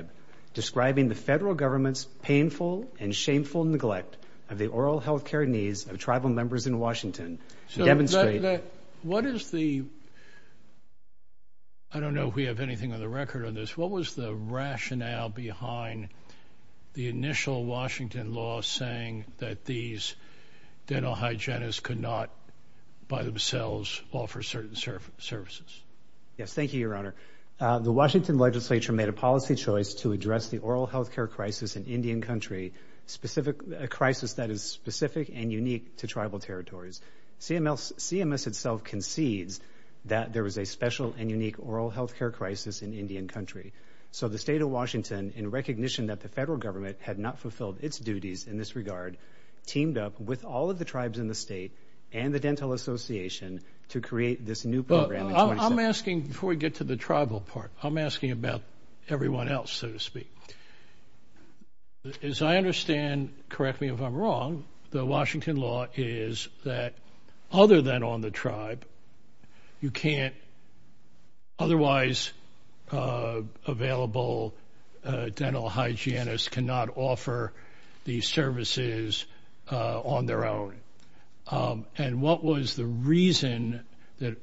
Next case for argument will be Washington State Health Care v. Centers for Medicare & Medicaid Next case for argument will be Washington State Health Care v. Centers for Medicare & Medicaid Next case for argument will be Washington State Health Care v. Centers for Medicare & Medicaid Next case for argument will be Washington State Health Care v. Centers for Medicare & Medicaid I don't know if we have anything on the record on this. What was the rationale behind the initial Washington law saying that these dental hygienists could not, by themselves, offer certain services? Yes, thank you, Your Honor. The Washington legislature made a policy choice to address the oral health care crisis in Indian Country, a crisis that is specific and unique to tribal territories. CMS itself concedes that there is a special and unique oral health care crisis in Indian Country. So the state of Washington, in recognition that the federal government had not fulfilled its duties in this regard, teamed up with all of the tribes in the state and the Dental Association to create this new program in 2017. Before we get to the tribal part, I'm asking about everyone else, so to speak. As I understand, correct me if I'm wrong, the Washington law is that other than on the tribe, otherwise available dental hygienists cannot offer these services on their own. And what was the reason that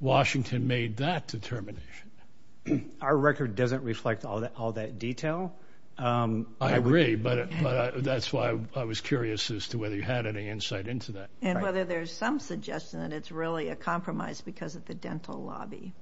Washington made that determination? Our record doesn't reflect all that detail. I agree, but that's why I was curious as to whether you had any insight into that. And whether there's some suggestion that it's really a compromise because of the dental lobby.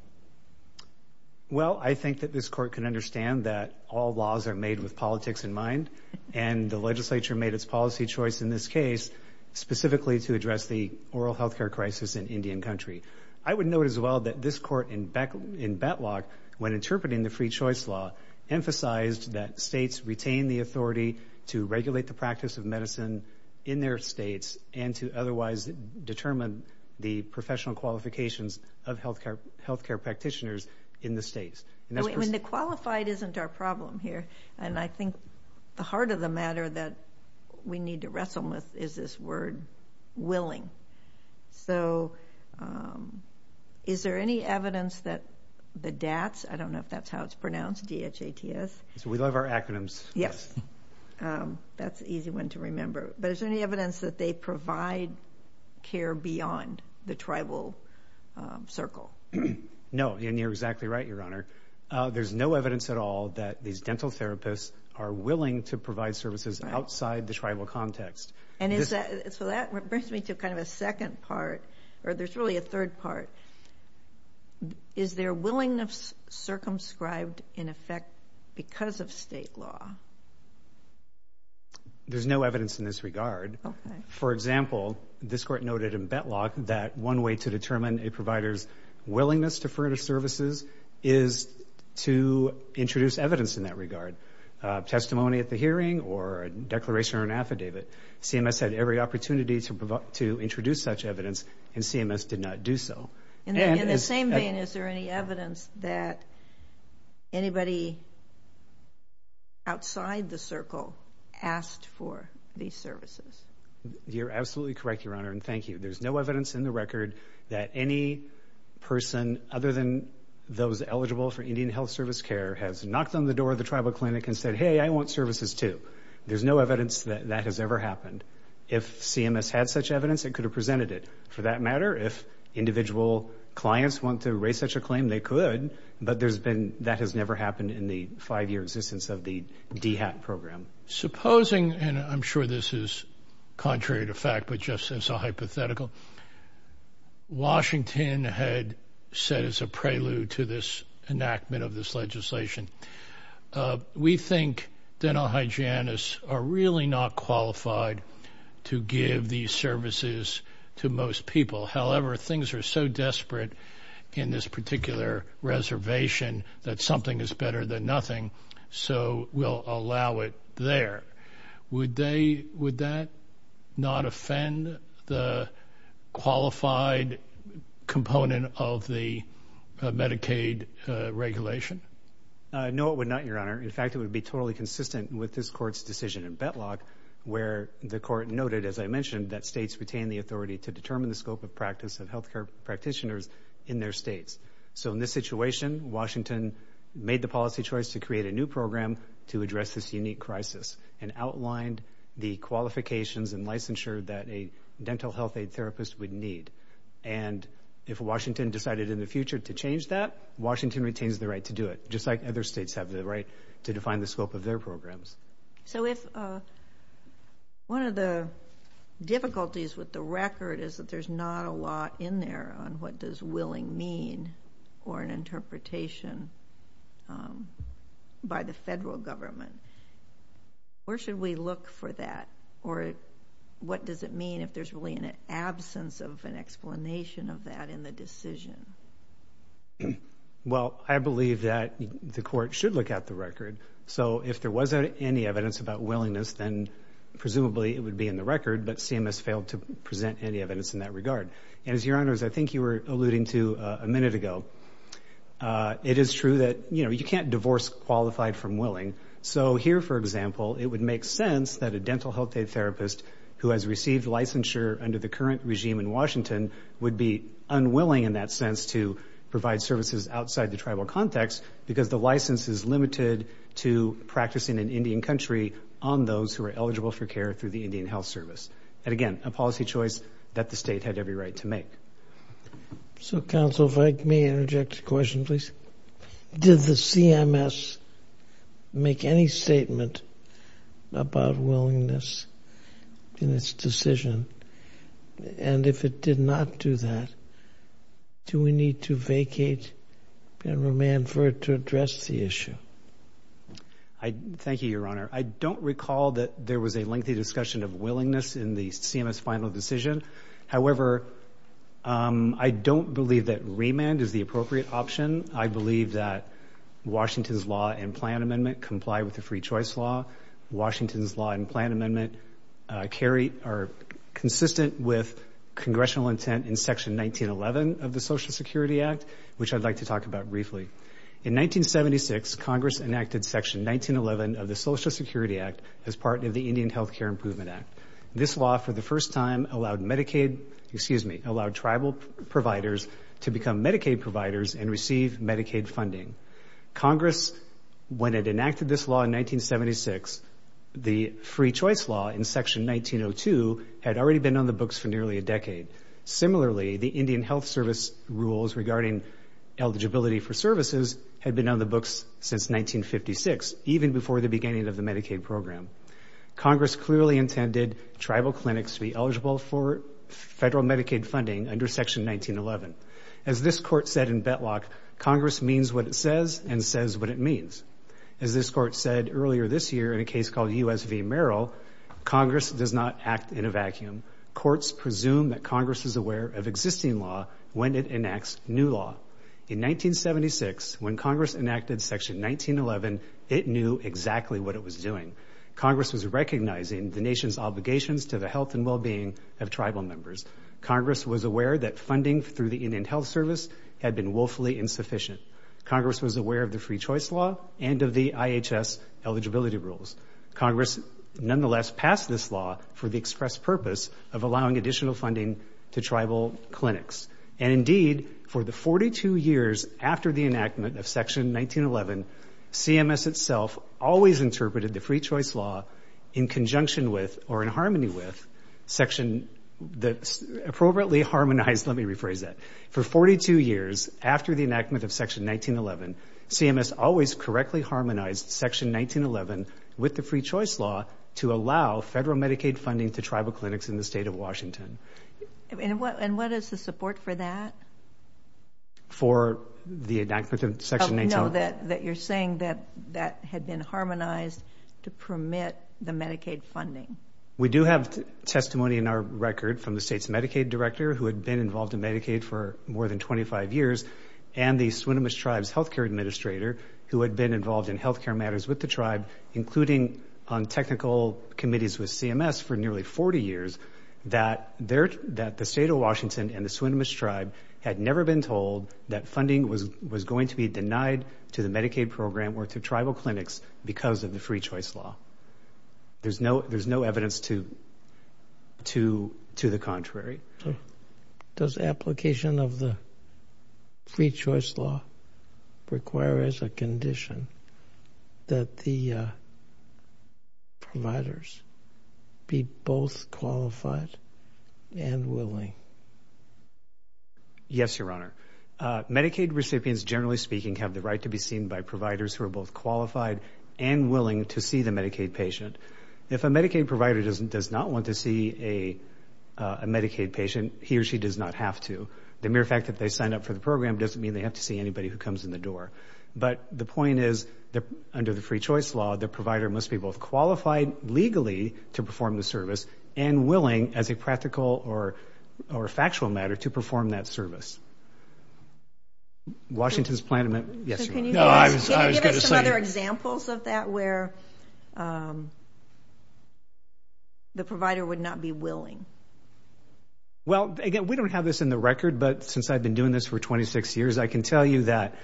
Well, I think that this court can understand that all laws are made with politics in mind. And the legislature made its policy choice in this case specifically to address the oral health care crisis in Indian Country. I would note as well that this court in Betlock, when interpreting the free choice law, emphasized that states retain the authority to regulate the practice of medicine in their states and to otherwise determine the professional qualifications of health care practitioners in the states. The qualified isn't our problem here. And I think the heart of the matter that we need to wrestle with is this word, willing. So is there any evidence that the DATS, I don't know if that's how it's pronounced, D-H-A-T-S. We love our acronyms. Yes, that's an easy one to remember. But is there any evidence that they provide care beyond the tribal circle? No, and you're exactly right, Your Honor. There's no evidence at all that these dental therapists are willing to provide services outside the tribal context. And so that brings me to kind of a second part, or there's really a third part. Is there willingness circumscribed in effect because of state law? There's no evidence in this regard. For example, this court noted in Betlock that one way to determine a provider's willingness to further services is to introduce evidence in that regard, testimony at the hearing or a declaration or an affidavit. CMS had every opportunity to introduce such evidence, and CMS did not do so. In the same vein, is there any evidence that anybody outside the circle asked for these services? You're absolutely correct, Your Honor, and thank you. There's no evidence in the record that any person other than those eligible for Indian health service care has knocked on the door of the tribal clinic and said, hey, I want services too. There's no evidence that that has ever happened. If CMS had such evidence, it could have presented it. For that matter, if individual clients want to raise such a claim, they could, but that has never happened in the five-year existence of the DHAT program. Supposing, and I'm sure this is contrary to fact, but just as a hypothetical, Washington had said as a prelude to this enactment of this legislation, we think dental hygienists are really not qualified to give these services to most people. However, things are so desperate in this particular reservation that something is better than nothing, so we'll allow it there. Would that not offend the qualified component of the Medicaid regulation? No, it would not, Your Honor. In fact, it would be totally consistent with this Court's decision in Betlock where the Court noted, as I mentioned, that states retain the authority to determine the scope of practice of health care practitioners in their states. So in this situation, Washington made the policy choice to create a new program to address this unique crisis and outlined the qualifications and licensure that a dental health aid therapist would need. And if Washington decided in the future to change that, Washington retains the right to do it, just like other states have the right to define the scope of their programs. So if one of the difficulties with the record is that there's not a lot in there on what does willing mean or an interpretation by the federal government, where should we look for that? Or what does it mean if there's really an absence of an explanation of that in the decision? Well, I believe that the Court should look at the record. So if there wasn't any evidence about willingness, then presumably it would be in the record, but CMS failed to present any evidence in that regard. And as Your Honors, I think you were alluding to a minute ago, it is true that you can't divorce qualified from willing. So here, for example, it would make sense that a dental health aid therapist who has received licensure under the current regime in Washington would be unwilling in that sense to provide services outside the tribal context because the license is limited to practicing in Indian Country on those who are eligible for care through the Indian Health Service. And again, a policy choice that the state had every right to make. So, Counsel, if I may interject a question, please. Did the CMS make any statement about willingness in its decision? And if it did not do that, do we need to vacate and remand for it to address the issue? Thank you, Your Honor. I don't recall that there was a lengthy discussion of willingness in the CMS final decision. However, I don't believe that remand is the appropriate option. I believe that Washington's law and plan amendment comply with the free choice law. Washington's law and plan amendment are consistent with congressional intent in Section 1911 of the Social Security Act, which I'd like to talk about briefly. In 1976, Congress enacted Section 1911 of the Social Security Act as part of the Indian Health Care Improvement Act. This law, for the first time, allowed Medicaid, excuse me, allowed tribal providers to become Medicaid providers and receive Medicaid funding. Congress, when it enacted this law in 1976, the free choice law in Section 1902 had already been on the books for nearly a decade. Similarly, the Indian Health Service rules regarding eligibility for services had been on the books since 1956, even before the beginning of the Medicaid program. Congress clearly intended tribal clinics to be eligible for federal Medicaid funding under Section 1911. As this Court said in Betlock, Congress means what it says and says what it means. As this Court said earlier this year in a case called U.S. v. Merrill, Congress does not act in a vacuum. Courts presume that Congress is aware of existing law when it enacts new law. In 1976, when Congress enacted Section 1911, it knew exactly what it was doing. Congress was recognizing the nation's obligations to the health and well-being of tribal members. Congress was aware that funding through the Indian Health Service had been woefully insufficient. Congress was aware of the free choice law and of the IHS eligibility rules. Congress, nonetheless, passed this law for the express purpose of allowing additional funding to tribal clinics. And, indeed, for the 42 years after the enactment of Section 1911, CMS itself always interpreted the free choice law in conjunction with or in harmony with Section the appropriately harmonized, let me rephrase that, for 42 years after the enactment of Section 1911, CMS always correctly harmonized Section 1911 with the free choice law to allow federal Medicaid funding to tribal clinics in the state of Washington. And what is the support for that? For the enactment of Section 1911? No, that you're saying that that had been harmonized to permit the Medicaid funding. We do have testimony in our record from the state's Medicaid director, who had been involved in Medicaid for more than 25 years, and the Swinomish Tribe's health care administrator, who had been involved in health care matters with the tribe, including on technical committees with CMS for nearly 40 years, that the state of Washington and the Swinomish Tribe had never been told that funding was going to be denied to the Medicaid program or to tribal clinics because of the free choice law. There's no evidence to the contrary. Does application of the free choice law require as a condition that the providers be both qualified and willing? Yes, Your Honor. Medicaid recipients, generally speaking, have the right to be seen by providers who are both qualified and willing to see the Medicaid patient. If a Medicaid provider does not want to see a Medicaid patient, he or she does not have to. The mere fact that they signed up for the program doesn't mean they have to see anybody who comes in the door. But the point is, under the free choice law, the provider must be both qualified legally to perform the service and willing, as a practical or factual matter, to perform that service. Washington's plan, yes, Your Honor. Can you give us some other examples of that where the provider would not be willing? Well, again, we don't have this in the record, but since I've been doing this for 26 years, I can tell you that,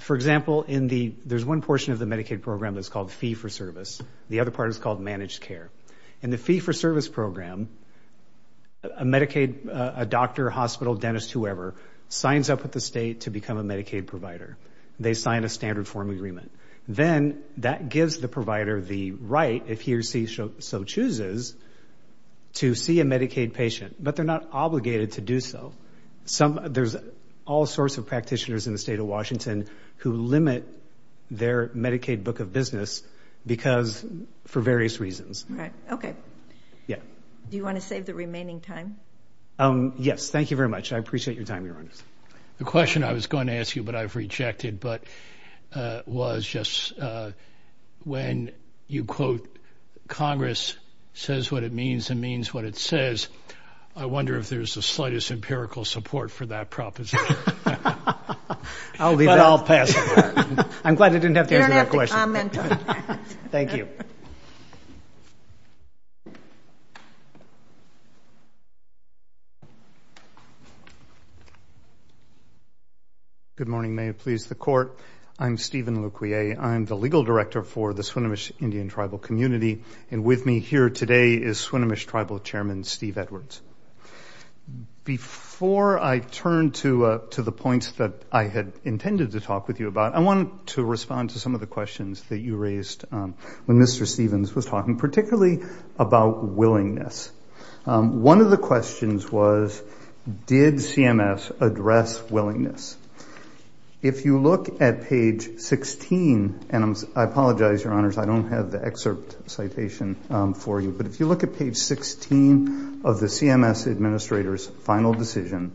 for example, there's one portion of the Medicaid program that's called fee-for-service. The other part is called managed care. In the fee-for-service program, a doctor, hospital, dentist, whoever, signs up with the state to become a Medicaid provider. They sign a standard form agreement. Then that gives the provider the right, if he or she so chooses, to see a Medicaid patient. But they're not obligated to do so. There's all sorts of practitioners in the state of Washington who limit their Medicaid book of business for various reasons. Okay. Do you want to save the remaining time? Yes. Thank you very much. I appreciate your time, Your Honors. The question I was going to ask you, but I've rejected, was just when you quote Congress says what it means and means what it says, I wonder if there's the slightest empirical support for that proposition. I'll pass it on. I'm glad I didn't have to answer that question. You don't have to comment on that. Thank you. Good morning. May it please the Court. I'm Stephen Luquier. I'm the legal director for the Swinomish Indian Tribal Community, and with me here today is Swinomish Tribal Chairman Steve Edwards. Before I turn to the points that I had intended to talk with you about, I wanted to respond to some of the questions that you raised when Mr. Stevens was talking, particularly about willingness. One of the questions was did CMS address willingness? If you look at page 16, and I apologize, Your Honors, I don't have the excerpt citation for you, but if you look at page 16 of the CMS administrator's final decision,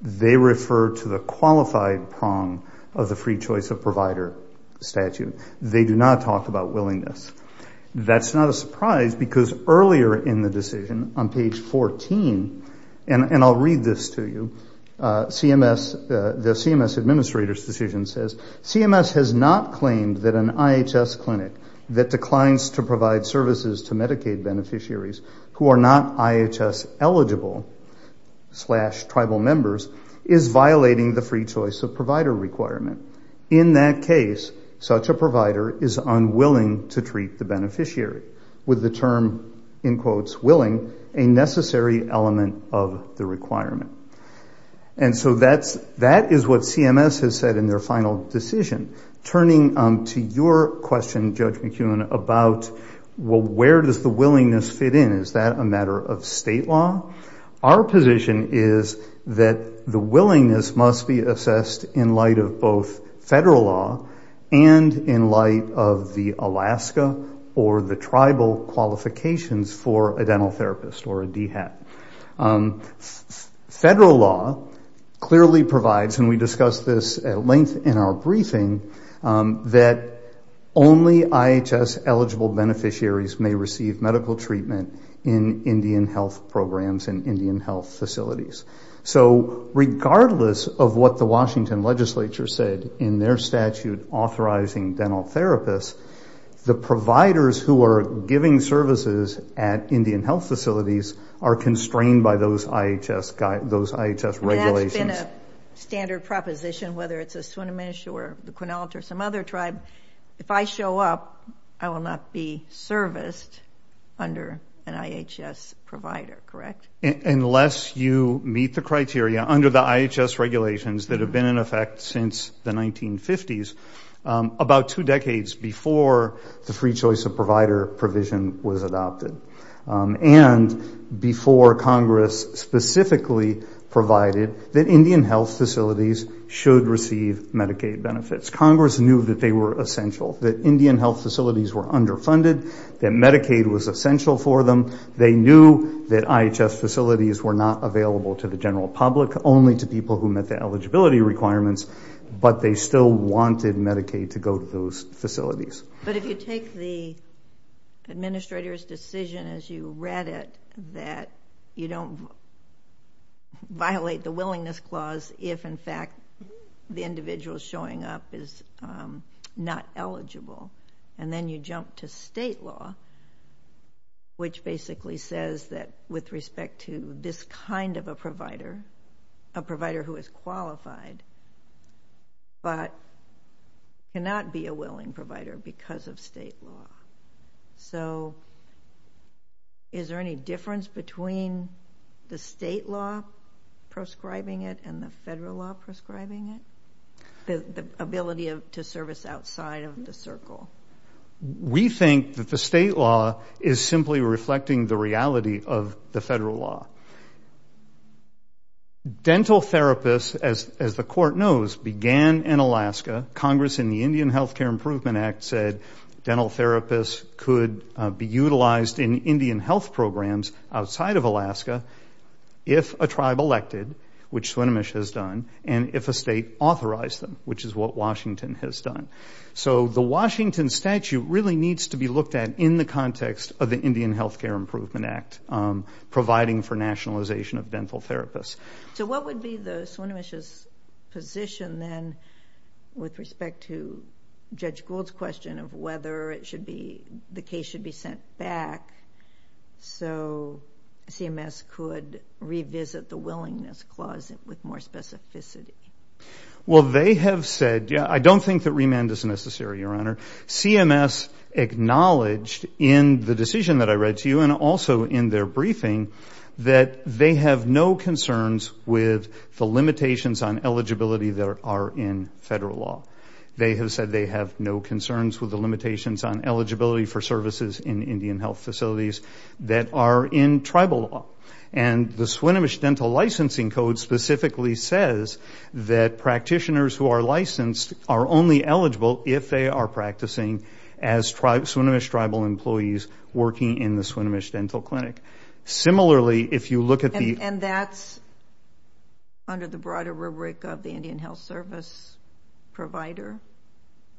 they refer to the qualified prong of the free choice of provider statute. They do not talk about willingness. That's not a surprise because earlier in the decision, on page 14, and I'll read this to you, the CMS administrator's decision says, CMS has not claimed that an IHS clinic that declines to provide services to Medicaid beneficiaries who are not IHS eligible slash tribal members is violating the free choice of provider requirement. In that case, such a provider is unwilling to treat the beneficiary, with the term, in quotes, willing, a necessary element of the requirement. And so that is what CMS has said in their final decision. Turning to your question, Judge McKeown, about, well, where does the willingness fit in? Is that a matter of state law? Our position is that the willingness must be assessed in light of both federal law and in light of the Alaska or the tribal qualifications for a dental therapist or a DHET. Federal law clearly provides, and we discussed this at length in our briefing, that only IHS eligible beneficiaries may receive medical treatment in Indian health programs and Indian health facilities. So regardless of what the Washington legislature said in their statute authorizing dental therapists, the providers who are giving services at Indian health facilities are constrained by those IHS regulations. In a standard proposition, whether it's a Swinomish or the Quinault or some other tribe, if I show up, I will not be serviced under an IHS provider, correct? Unless you meet the criteria under the IHS regulations that have been in effect since the 1950s, about two decades before the free choice of provider provision was adopted and before Congress specifically provided that Indian health facilities should receive Medicaid benefits. Congress knew that they were essential, that Indian health facilities were underfunded, that Medicaid was essential for them. They knew that IHS facilities were not available to the general public, only to people who met the eligibility requirements, but they still wanted Medicaid to go to those facilities. But if you take the administrator's decision as you read it, that you don't violate the willingness clause if, in fact, the individual showing up is not eligible, and then you jump to state law, which basically says that with respect to this kind of a provider, a provider who is qualified but cannot be a willing provider because of state law. So is there any difference between the state law prescribing it and the federal law prescribing it, the ability to service outside of the circle? We think that the state law is simply reflecting the reality of the federal law. Dental therapists, as the court knows, began in Alaska. Congress, in the Indian Health Care Improvement Act, said dental therapists could be utilized in Indian health programs outside of Alaska if a tribe elected, which Swinomish has done, and if a state authorized them, which is what Washington has done. So the Washington statute really needs to be looked at in the context of the Indian Health Care Improvement Act providing for nationalization of dental therapists. So what would be the Swinomish's position, then, with respect to Judge Gould's question of whether the case should be sent back so CMS could revisit the willingness clause with more specificity? Well, they have said, yeah, I don't think that remand is necessary, Your Honor. CMS acknowledged in the decision that I read to you and also in their briefing that they have no concerns with the limitations on eligibility that are in federal law. They have said they have no concerns with the limitations on eligibility for services in Indian health facilities that are in tribal law. And the Swinomish Dental Licensing Code specifically says that practitioners who are licensed are only eligible if they are practicing as Swinomish tribal employees working in the Swinomish Dental Clinic. Similarly, if you look at the- And that's under the broader rubric of the Indian Health Service provider,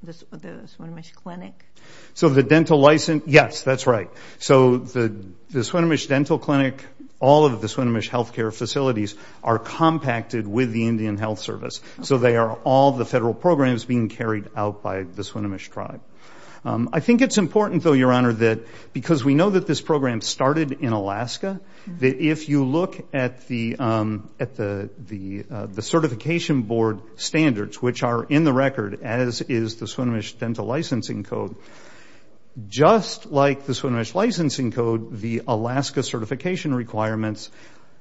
the Swinomish Clinic? So the dental license, yes, that's right. So the Swinomish Dental Clinic, all of the Swinomish health care facilities, are compacted with the Indian Health Service. So they are all the federal programs being carried out by the Swinomish tribe. I think it's important, though, Your Honor, that because we know that this program started in Alaska, that if you look at the certification board standards, which are in the record, as is the Swinomish Dental Licensing Code, just like the Swinomish Licensing Code, the Alaska certification requirements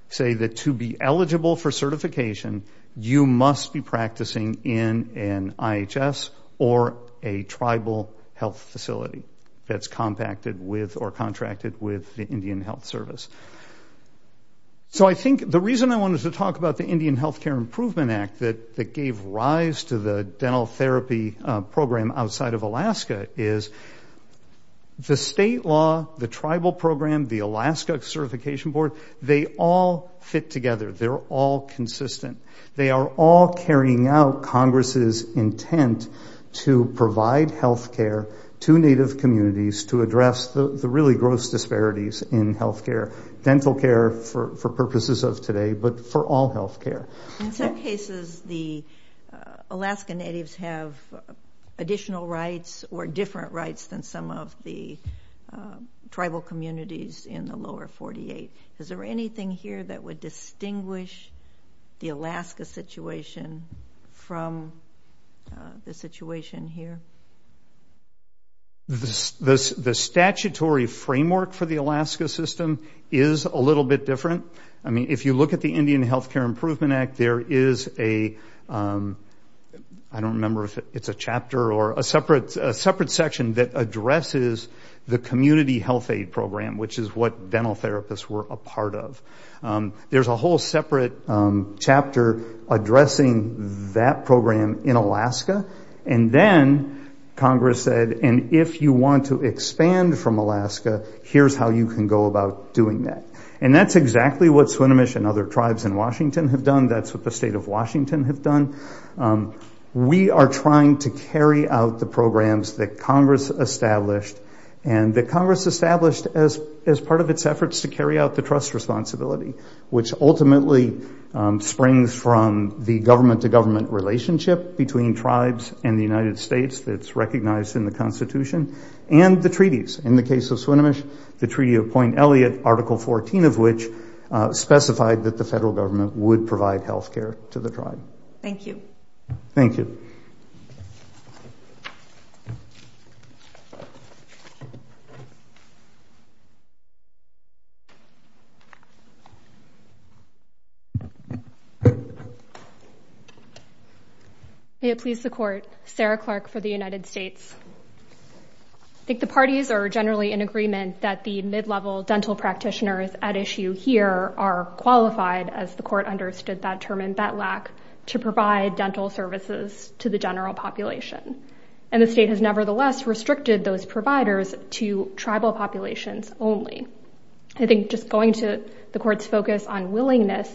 say that to be eligible for certification, you must be practicing in an IHS or a tribal health facility that's compacted with or contracted with the Indian Health Service. So I think the reason I wanted to talk about the Indian Health Care Improvement Act that gave rise to the dental therapy program outside of Alaska is the state law, the tribal program, the Alaska certification board, they all fit together. They're all consistent. They are all carrying out Congress's intent to provide health care to Native communities to address the really gross disparities in health care, dental care for purposes of today, but for all health care. In some cases, the Alaska Natives have additional rights or different rights than some of the tribal communities in the lower 48. Is there anything here that would distinguish the Alaska situation from the situation here? The statutory framework for the Alaska system is a little bit different. I mean, if you look at the Indian Health Care Improvement Act, there is a, I don't remember if it's a chapter or a separate section that addresses the community health aid program, which is what dental therapists were a part of. There's a whole separate chapter addressing that program in Alaska, and then Congress said, and if you want to expand from Alaska, here's how you can go about doing that. And that's exactly what Swinomish and other tribes in Washington have done. That's what the state of Washington have done. We are trying to carry out the programs that Congress established, and that Congress established as part of its efforts to carry out the trust responsibility, which ultimately springs from the government-to-government relationship between tribes and the United States that's recognized in the Constitution and the treaties. In the case of Swinomish, the Treaty of Point Elliot, Article 14 of which, specified that the federal government would provide health care to the tribe. Thank you. Thank you. May it please the Court, Sarah Clark for the United States. I think the parties are generally in agreement that the mid-level dental practitioners at issue here are qualified, as the Court understood that term in Betlac, to provide dental services to the general population, and the state has nevertheless restricted those providers to tribal populations only. I think just going to the Court's focus on willingness,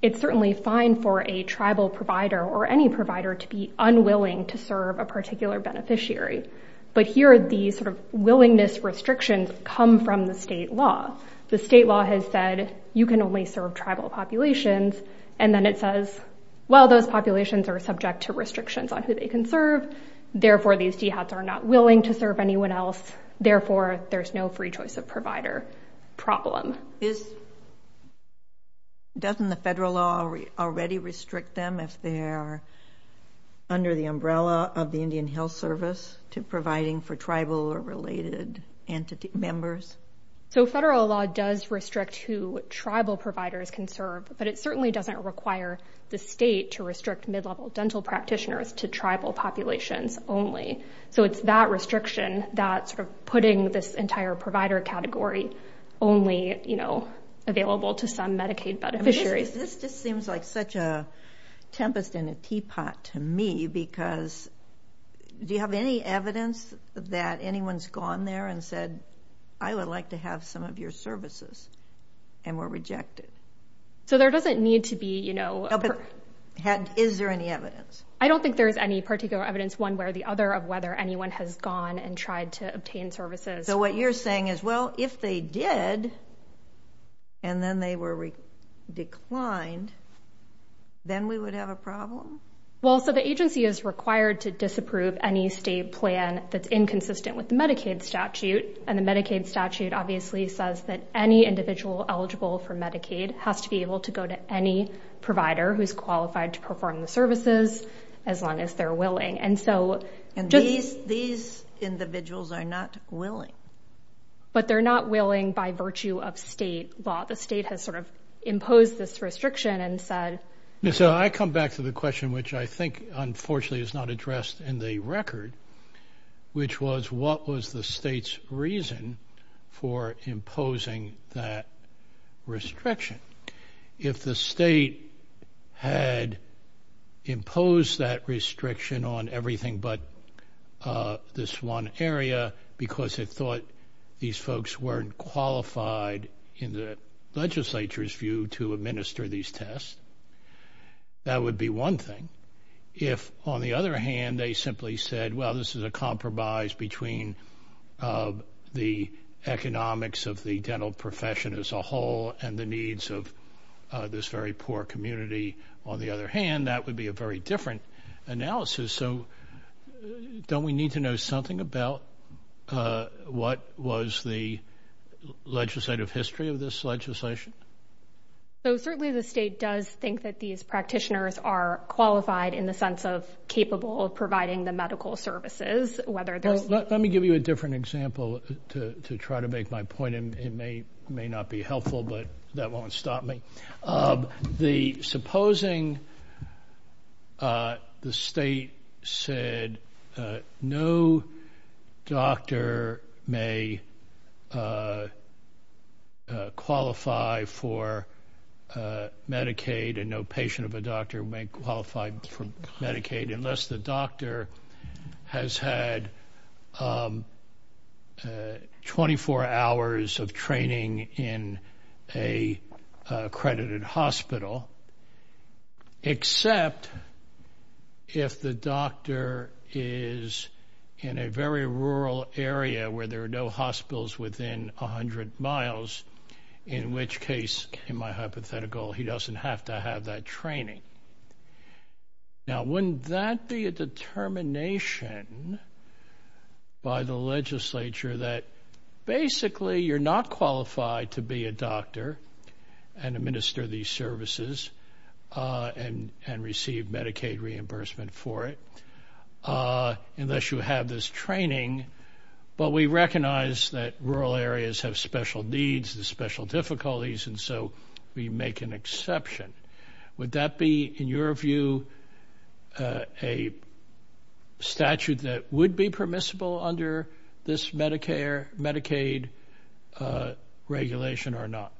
it's certainly fine for a tribal provider or any provider to be unwilling to serve a particular beneficiary, but here the sort of willingness restrictions come from the state law. The state law has said, you can only serve tribal populations, and then it says, well, those populations are subject to restrictions on who they can serve, therefore, these DHATs are not willing to serve anyone else, therefore, there's no free choice of provider problem. Doesn't the federal law already restrict them if they're under the umbrella of the Indian Health Service to providing for tribal or related members? So federal law does restrict who tribal providers can serve, but it certainly doesn't require the state to restrict mid-level dental practitioners to tribal populations only. So it's that restriction, that sort of putting this entire provider category only, you know, available to some Medicaid beneficiaries. This just seems like such a tempest in a teapot to me, because do you have any evidence that anyone's gone there and said, I would like to have some of your services, and were rejected? So there doesn't need to be, you know... Is there any evidence? I don't think there's any particular evidence, one way or the other, of whether anyone has gone and tried to obtain services. So what you're saying is, well, if they did, and then they were declined, then we would have a problem? Well, so the agency is required to disapprove any state plan that's inconsistent with the Medicaid statute, and the Medicaid statute obviously says that any individual eligible for Medicaid has to be able to go to any provider who's qualified to perform the services, as long as they're willing. And so... And these individuals are not willing? But they're not willing by virtue of state law. The state has sort of imposed this restriction and said... So I come back to the question, which I think, unfortunately, is not addressed in the record, which was, what was the state's reason for imposing that restriction? If the state had imposed that restriction on everything but this one area, because it thought these folks weren't qualified, in the legislature's view, to administer these tests, that would be one thing. If, on the other hand, they simply said, well, this is a compromise between the economics of the dental profession as a whole and the needs of this very poor community, on the other hand, that would be a very different analysis. So don't we need to know something about what was the legislative history of this legislation? So certainly the state does think that these practitioners are qualified in the sense of capable of providing the medical services, whether there's... Let me give you a different example to try to make my point. It may not be helpful, but that won't stop me. Supposing the state said no doctor may qualify for Medicaid and no patient of a doctor may qualify for Medicaid unless the doctor has had 24 hours of training in an accredited hospital, except if the doctor is in a very rural area where there are no hospitals within 100 miles, in which case, in my hypothetical, he doesn't have to have that training. Now, wouldn't that be a determination by the legislature that basically you're not qualified to be a doctor and administer these services and receive Medicaid reimbursement for it unless you have this training, but we recognize that rural areas have special needs and special difficulties, and so we make an exception. Would that be, in your view, a statute that would be permissible under this Medicaid regulation or not?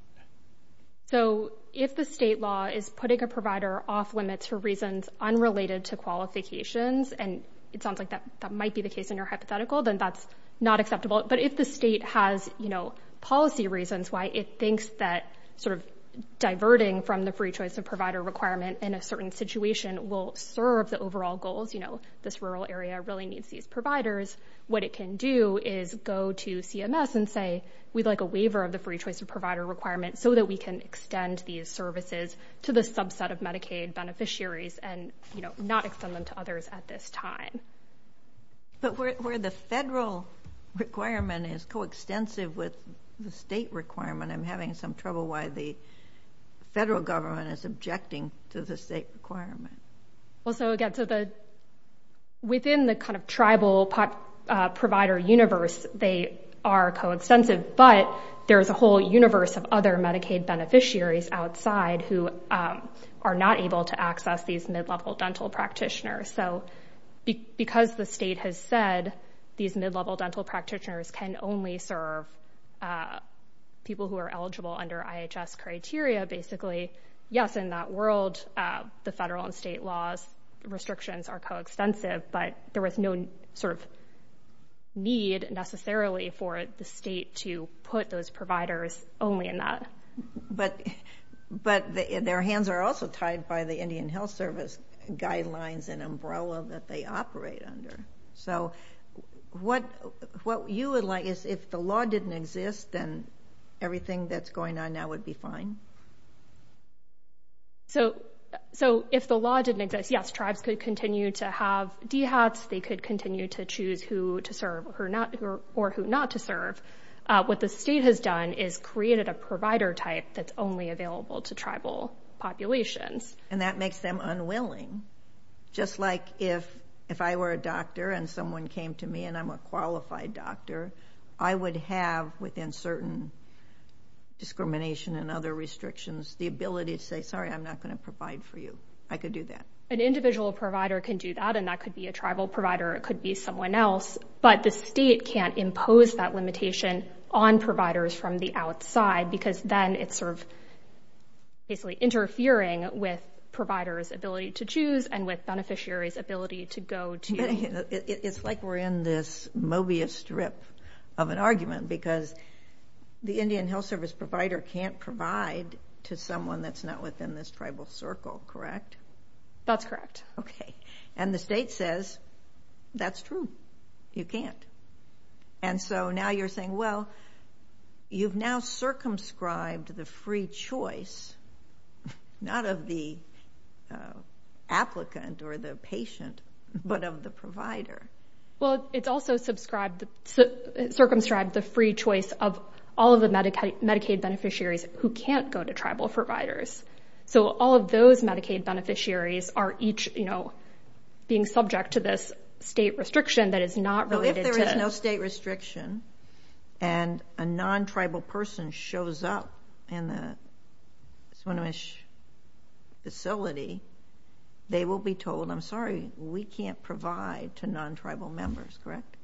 So if the state law is putting a provider off-limits for reasons unrelated to qualifications, and it sounds like that might be the case in your hypothetical, then that's not acceptable. But if the state has policy reasons why it thinks that sort of diverting from the free choice of provider requirement in a certain situation will serve the overall goals, you know, this rural area really needs these providers, what it can do is go to CMS and say, we'd like a waiver of the free choice of provider requirement so that we can extend these services to the subset of Medicaid beneficiaries and not extend them to others at this time. But where the federal requirement is coextensive with the state requirement, I'm having some trouble why the federal government is objecting to the state requirement. Well, so again, within the kind of tribal provider universe, they are coextensive, but there's a whole universe of other Medicaid beneficiaries outside who are not able to access these mid-level dental practitioners. So because the state has said these mid-level dental practitioners can only serve people who are eligible under IHS criteria, basically, yes, in that world, the federal and state laws, restrictions are coextensive, but there was no sort of need necessarily for the state to put those providers only in that. But their hands are also tied by the Indian Health Service guidelines and umbrella that they operate under. So what you would like is if the law didn't exist, then everything that's going on now would be fine? So if the law didn't exist, yes, tribes could continue to have DHATs, they could continue to choose who to serve or who not to serve. What the state has done is created a provider type that's only available to tribal populations. And that makes them unwilling. Just like if I were a doctor and someone came to me and I'm a qualified doctor, I would have within certain discrimination and other restrictions the ability to say, sorry, I'm not going to provide for you. I could do that. An individual provider can do that, and that could be a tribal provider, it could be someone else, but the state can't impose that limitation on providers from the outside because then it's sort of basically interfering with providers' ability to choose and with beneficiaries' ability to go to. It's like we're in this Mobius strip of an argument because the Indian Health Service provider can't provide to someone that's not within this tribal circle, correct? That's correct. Okay. And the state says, that's true, you can't. And so now you're saying, well, you've now circumscribed the free choice, not of the applicant or the patient, but of the provider. Well, it's also circumscribed the free choice of all of the Medicaid beneficiaries who can't go to tribal providers. So all of those Medicaid beneficiaries are each, you know, being subject to this state restriction that is not related to them. If there's no state restriction and a non-tribal person shows up in the Swinomish facility, they will be told, I'm sorry, we can't provide to non-tribal members, correct?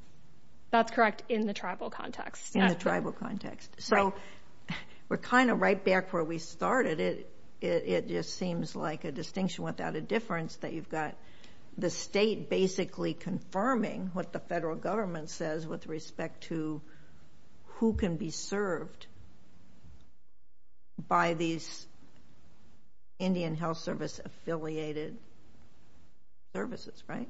That's correct in the tribal context. In the tribal context. So we're kind of right back where we started. It just seems like a distinction without a difference that you've got the state basically confirming what the federal government says with respect to who can be served by these Indian Health Service affiliated services, right?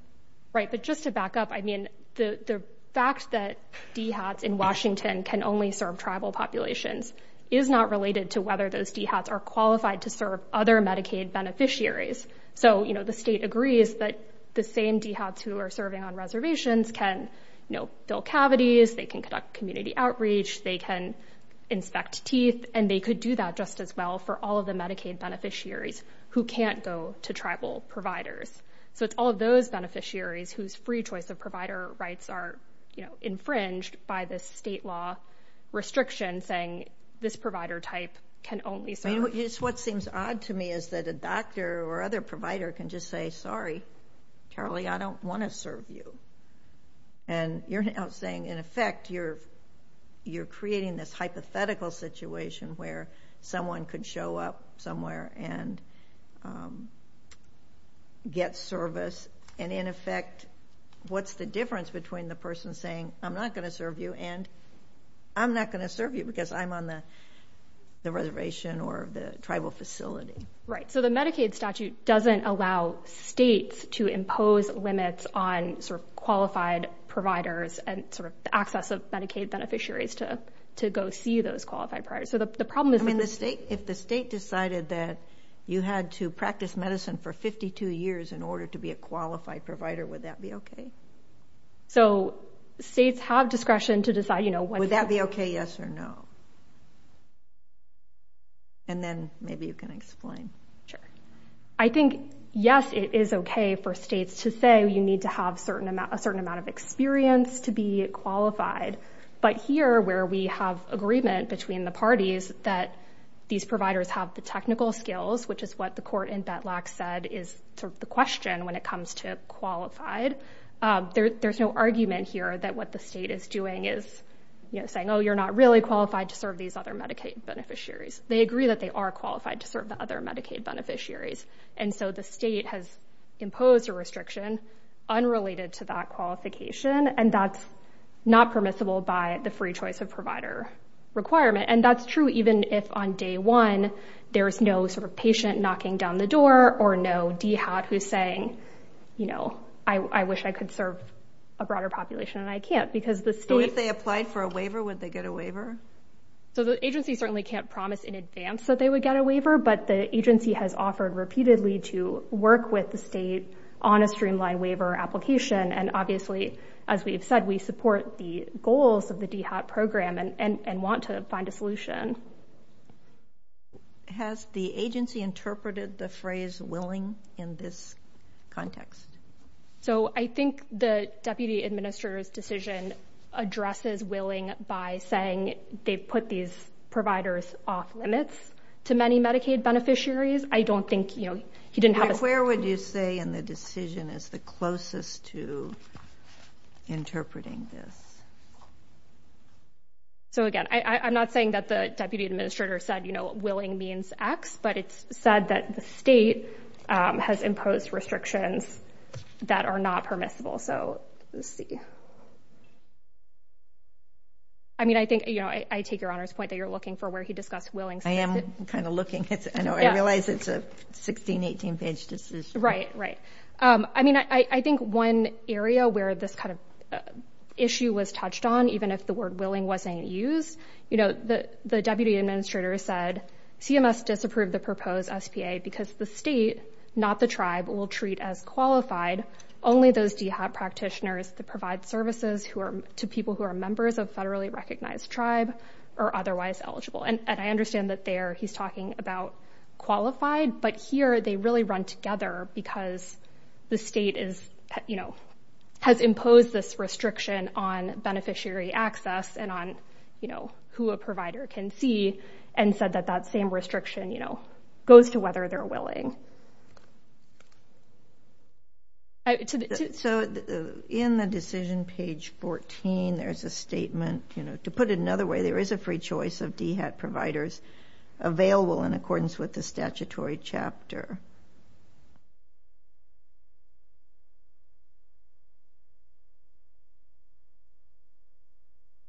Right. But just to back up, I mean, the fact that DHATs in Washington can only serve tribal populations is not related to whether those DHATs are qualified to serve other Medicaid beneficiaries. So, you know, the state agrees that the same DHATs who are serving on reservations can, you know, fill cavities, they can conduct community outreach, they can inspect teeth, and they could do that just as well for all of the Medicaid beneficiaries who can't go to tribal providers. So it's all of those beneficiaries whose free choice of provider rights are, you know, infringed by this state law restriction saying this provider type can only serve. What seems odd to me is that a doctor or other provider can just say, sorry, Charlie, I don't want to serve you. And you're now saying, in effect, you're creating this hypothetical situation where someone could show up somewhere and get service. And, in effect, what's the difference between the person saying, I'm not going to serve you and I'm not going to serve you because I'm on the reservation or the tribal facility? Right. So the Medicaid statute doesn't allow states to impose limits on sort of qualified providers and sort of the access of Medicaid beneficiaries to go see those qualified providers. So the problem is when the state – I mean, if the state decided that you had to practice medicine for 52 years in order to be a qualified provider, would that be okay? So states have discretion to decide, you know, what – say yes or no. And then maybe you can explain. Sure. I think, yes, it is okay for states to say you need to have a certain amount of experience to be qualified. But here, where we have agreement between the parties that these providers have the technical skills, which is what the court in Betlac said is sort of the question when it comes to qualified, there's no argument here that what the state is doing is, you know, saying, oh, you're not really qualified to serve these other Medicaid beneficiaries. They agree that they are qualified to serve the other Medicaid beneficiaries. And so the state has imposed a restriction unrelated to that qualification, and that's not permissible by the free choice of provider requirement. And that's true even if on day one there is no sort of patient knocking down the door or no DHAT who's saying, you know, I wish I could serve a broader population and I can't because the state – If they applied for a waiver, would they get a waiver? So the agency certainly can't promise in advance that they would get a waiver, but the agency has offered repeatedly to work with the state on a streamlined waiver application. And obviously, as we have said, we support the goals of the DHAT program and want to find a solution. Has the agency interpreted the phrase willing in this context? So I think the deputy administrator's decision addresses willing by saying they put these providers off limits to many Medicaid beneficiaries. I don't think – you know, he didn't have a – Where would you say in the decision is the closest to interpreting this? So, again, I'm not saying that the deputy administrator said, you know, that are not permissible. So let's see. I mean, I think – you know, I take Your Honor's point that you're looking for where he discussed willing. I am kind of looking. I realize it's a 16, 18-page decision. Right, right. I mean, I think one area where this kind of issue was touched on, even if the word willing wasn't used, you know, the deputy administrator said, CMS disapproved the proposed SPA because the state, not the tribe, will treat as qualified only those DHAP practitioners that provide services to people who are members of federally recognized tribe or otherwise eligible. And I understand that there he's talking about qualified, but here they really run together because the state is, you know, has imposed this restriction on beneficiary access and on, you know, who a provider can see and said that that same restriction, you know, So in the decision, page 14, there's a statement, you know, to put it another way, there is a free choice of DHAP providers available in accordance with the statutory chapter.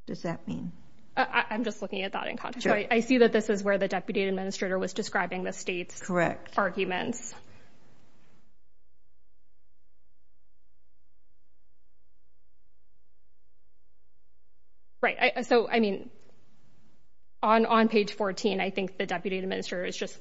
What does that mean? I'm just looking at that in context. I see that this is where the deputy administrator was describing the state's arguments. Right. So, I mean, on page 14, I think the deputy administrator is just,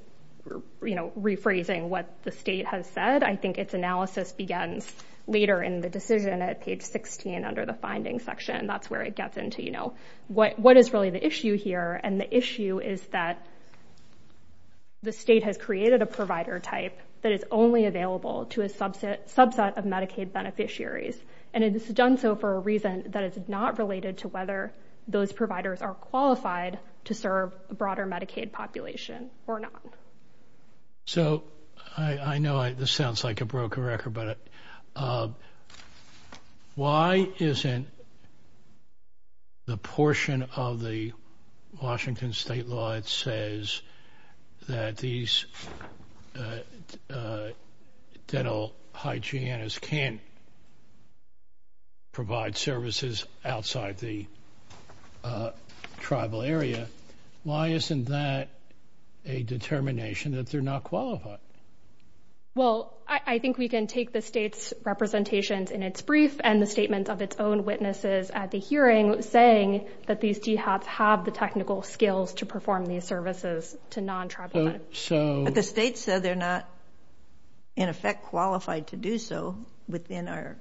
you know, rephrasing what the state has said. I think its analysis begins later in the decision at page 16 under the finding section. That's where it gets into, you know, what is really the issue here? And the issue is that the state has created a provider type that is only available to a subset of Medicaid beneficiaries. And it's done so for a reason that is not related to whether those providers are qualified to serve a broader Medicaid population or not. So I know this sounds like a broken record, but why isn't the portion of the Washington state law that says that these dental hygienists can't provide services outside the tribal area? Why isn't that a determination that they're not qualified? Well, I think we can take the state's representations in its brief and the statement of its own witnesses at the hearing saying that these DHAPs have the technical skills to perform these services to non-tribal Medicaid. But the state said they're not, in effect, qualified to do so within our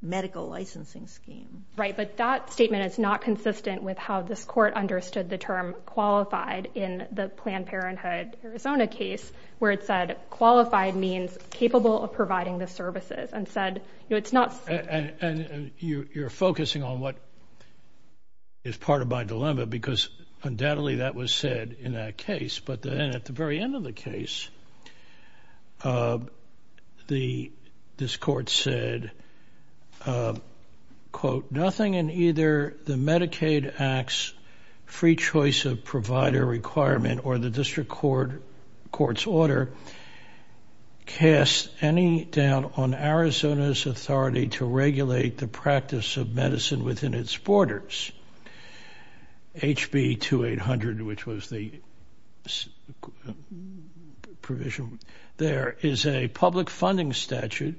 medical licensing scheme. Right. But that statement is not consistent with how this court understood the term qualified in the Planned Parenthood Arizona case where it said qualified means capable of providing the services and said, you know, it's not. You're focusing on what is part of my dilemma because undoubtedly that was said in that case. But then at the very end of the case, this court said, quote, nothing in either the Medicaid Act's free choice of provider requirement or the practice of medicine within its borders. HB 2800, which was the provision there, is a public funding statute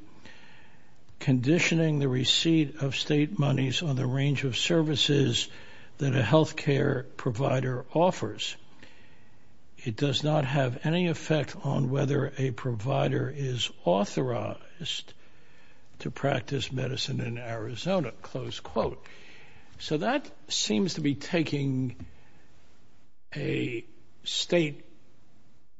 conditioning the receipt of state monies on the range of services that a health care provider offers. It does not have any effect on whether a provider is authorized to practice medicine in Arizona, close quote. So that seems to be taking a state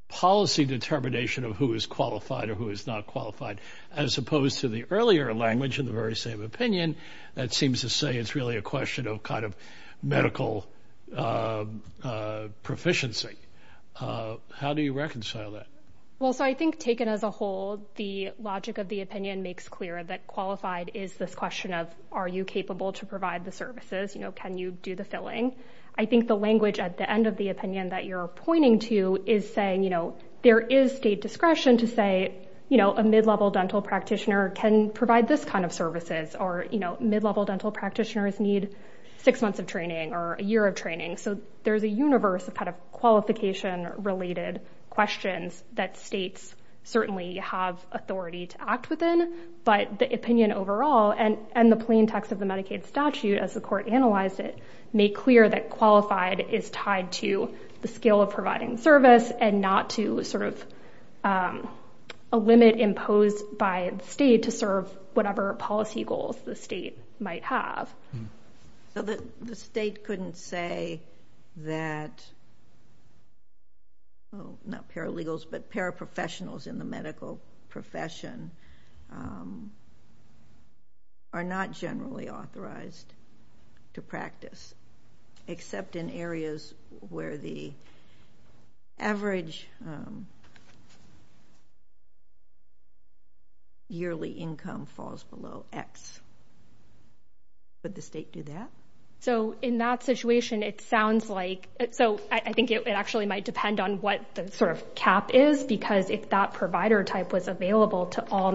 policy determination of who is qualified or who is not qualified, as opposed to the earlier language in the very same opinion that seems to say it's really a question of kind of medical proficiency. How do you reconcile that? Well, so I think taken as a whole, the logic of the opinion makes clear that qualified is this question of are you capable to provide the services? You know, can you do the filling? I think the language at the end of the opinion that you're pointing to is saying, you know, there is state discretion to say, you know, a mid-level dental practitioner can provide this kind of services. Or, you know, mid-level dental practitioners need six months of training or a year of training. So there's a universe of kind of qualification-related questions that states certainly have authority to act within. But the opinion overall and the plain text of the Medicaid statute, as the court analyzed it, make clear that qualified is tied to the skill of qualified state to serve whatever policy goals the state might have. So the state couldn't say that, well, not paralegals, but paraprofessionals in the medical profession are not generally authorized to practice except in areas where the average yearly income falls below X. Would the state do that? So in that situation, it sounds like so I think it actually might depend on what the sort of cap is because if that provider type was available to all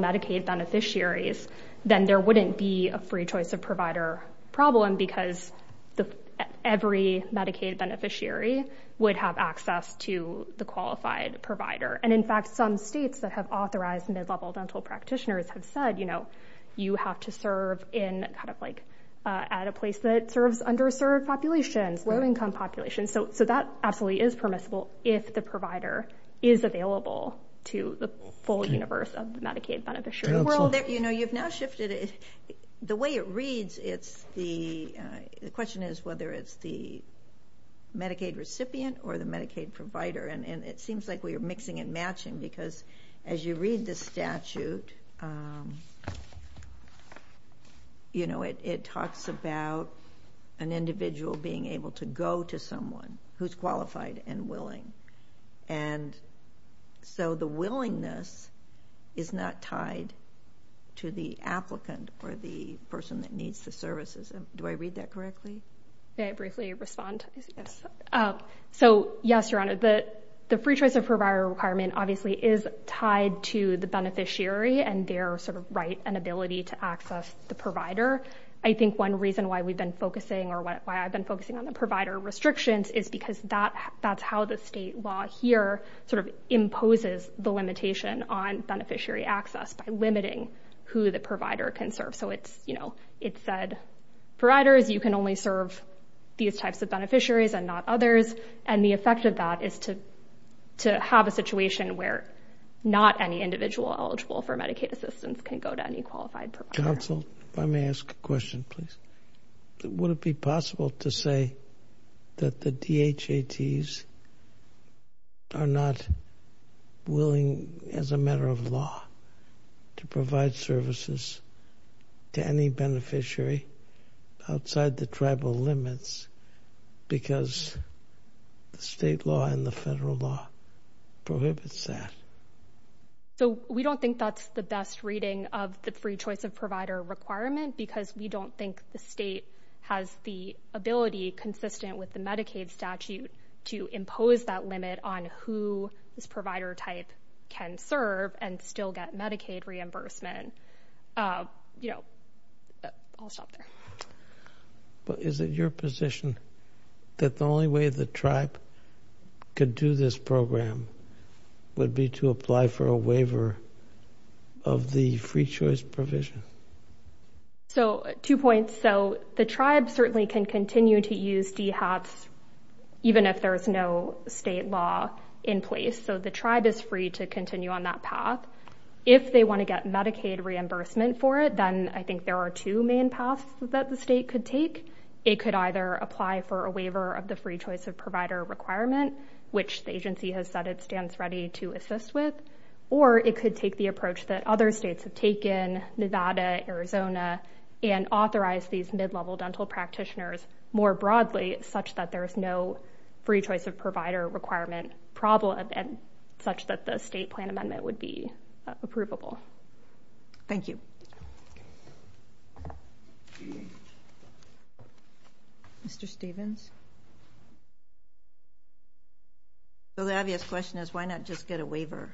every Medicaid beneficiary would have access to the qualified provider. And, in fact, some states that have authorized mid-level dental practitioners have said, you know, you have to serve in kind of like at a place that serves underserved populations, low-income populations. So that absolutely is permissible if the provider is available to the full universe of the Medicaid beneficiary. Well, you know, you've now shifted it. The way it reads, the question is whether it's the Medicaid recipient or the Medicaid provider. And it seems like we are mixing and matching because as you read the statute, you know, it talks about an individual being able to go to someone who's qualified and willing. And so the willingness is not tied to the applicant or the person that needs the services. Do I read that correctly? May I briefly respond? Yes. So, yes, Your Honor, the free choice of provider requirement obviously is tied to the beneficiary and their sort of right and ability to access the provider. I think one reason why we've been focusing or why I've been focusing on the provider restrictions is because that's how the state law here sort of imposes the limitation on beneficiary access by limiting who the provider can serve. So it's, you know, it said providers, you can only serve these types of beneficiaries and not others. And the effect of that is to have a situation where not any individual eligible for Medicaid assistance can go to any qualified provider. Counsel, if I may ask a question, please. Would it be possible to say that the DHATs are not willing, as a matter of law, to provide services to any beneficiary outside the tribal limits because the state law and the federal law prohibits that? So we don't think that's the best reading of the free choice of provider requirement because we don't think the state has the ability, consistent with the Medicaid statute, to impose that limit on who this provider type can serve and still get Medicaid reimbursement. You know, I'll stop there. But is it your position that the only way the tribe could do this program would be to apply for a waiver of the free choice provision? So two points. So the tribe certainly can continue to use DHATs even if there is no state law in place. So the tribe is free to continue on that path. If they want to get Medicaid reimbursement for it, then I think there are two main paths that the state could take. It could either apply for a waiver of the free choice of provider requirement, which the agency has said it stands ready to assist with, or it could take the approach that other states have taken, Nevada, Arizona, and authorize these mid-level dental practitioners more broadly such that there is no free choice of provider requirement problem and such that the state plan amendment would be approvable. Thank you. Thank you. Mr. Stevens? So the obvious question is why not just get a waiver?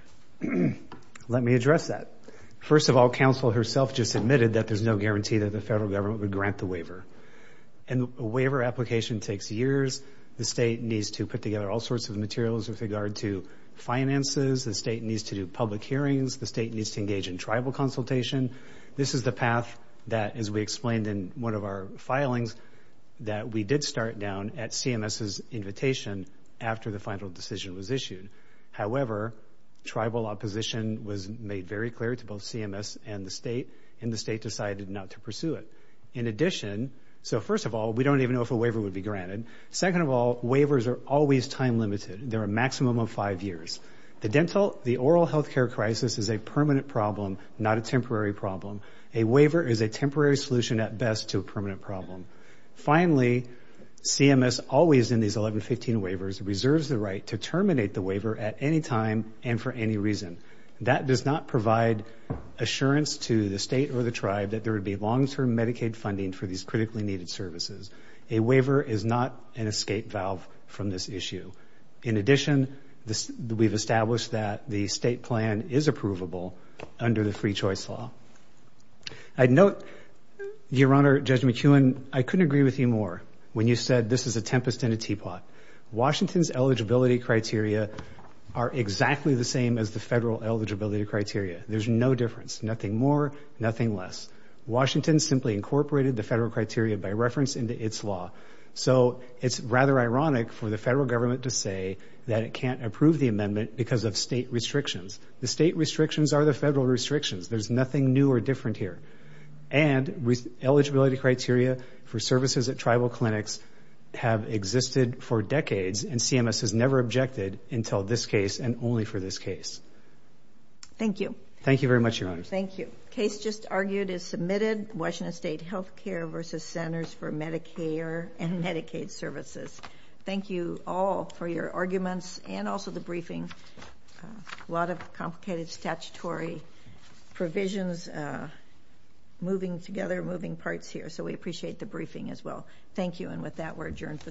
Let me address that. First of all, counsel herself just admitted that there's no guarantee that the federal government would grant the waiver. And a waiver application takes years. The state needs to put together all sorts of materials with regard to finances. The state needs to do public hearings. The state needs to engage in tribal consultation. This is the path that, as we explained in one of our filings, that we did start down at CMS's invitation after the final decision was issued. However, tribal opposition was made very clear to both CMS and the state, and the state decided not to pursue it. In addition, so first of all, we don't even know if a waiver would be granted. Second of all, waivers are always time limited. They're a maximum of five years. The dental, the oral health care crisis is a permanent problem, not a temporary problem. A waiver is a temporary solution at best to a permanent problem. Finally, CMS, always in these 1115 waivers, reserves the right to terminate the waiver at any time and for any reason. That does not provide assurance to the state or the tribe that there would be long-term Medicaid funding for these critically needed services. A waiver is not an escape valve from this issue. In addition, we've established that the state plan is approvable under the Free Choice Law. I'd note, Your Honor, Judge McEwen, I couldn't agree with you more when you said this is a tempest in a teapot. Washington's eligibility criteria are exactly the same as the federal eligibility criteria. There's no difference, nothing more, nothing less. Washington simply incorporated the federal criteria by reference into its law. So it's rather ironic for the federal government to say that it can't approve the amendment because of state restrictions. The state restrictions are the federal restrictions. There's nothing new or different here. And eligibility criteria for services at tribal clinics have existed for decades, and CMS has never objected until this case and only for this case. Thank you. Thank you very much, Your Honor. Thank you. The case just argued is submitted, Washington State Healthcare v. Centers for Medicare and Medicaid Services. Thank you all for your arguments and also the briefing. A lot of complicated statutory provisions moving together, moving parts here. So we appreciate the briefing as well. Thank you, and with that, we're adjourned for the morning.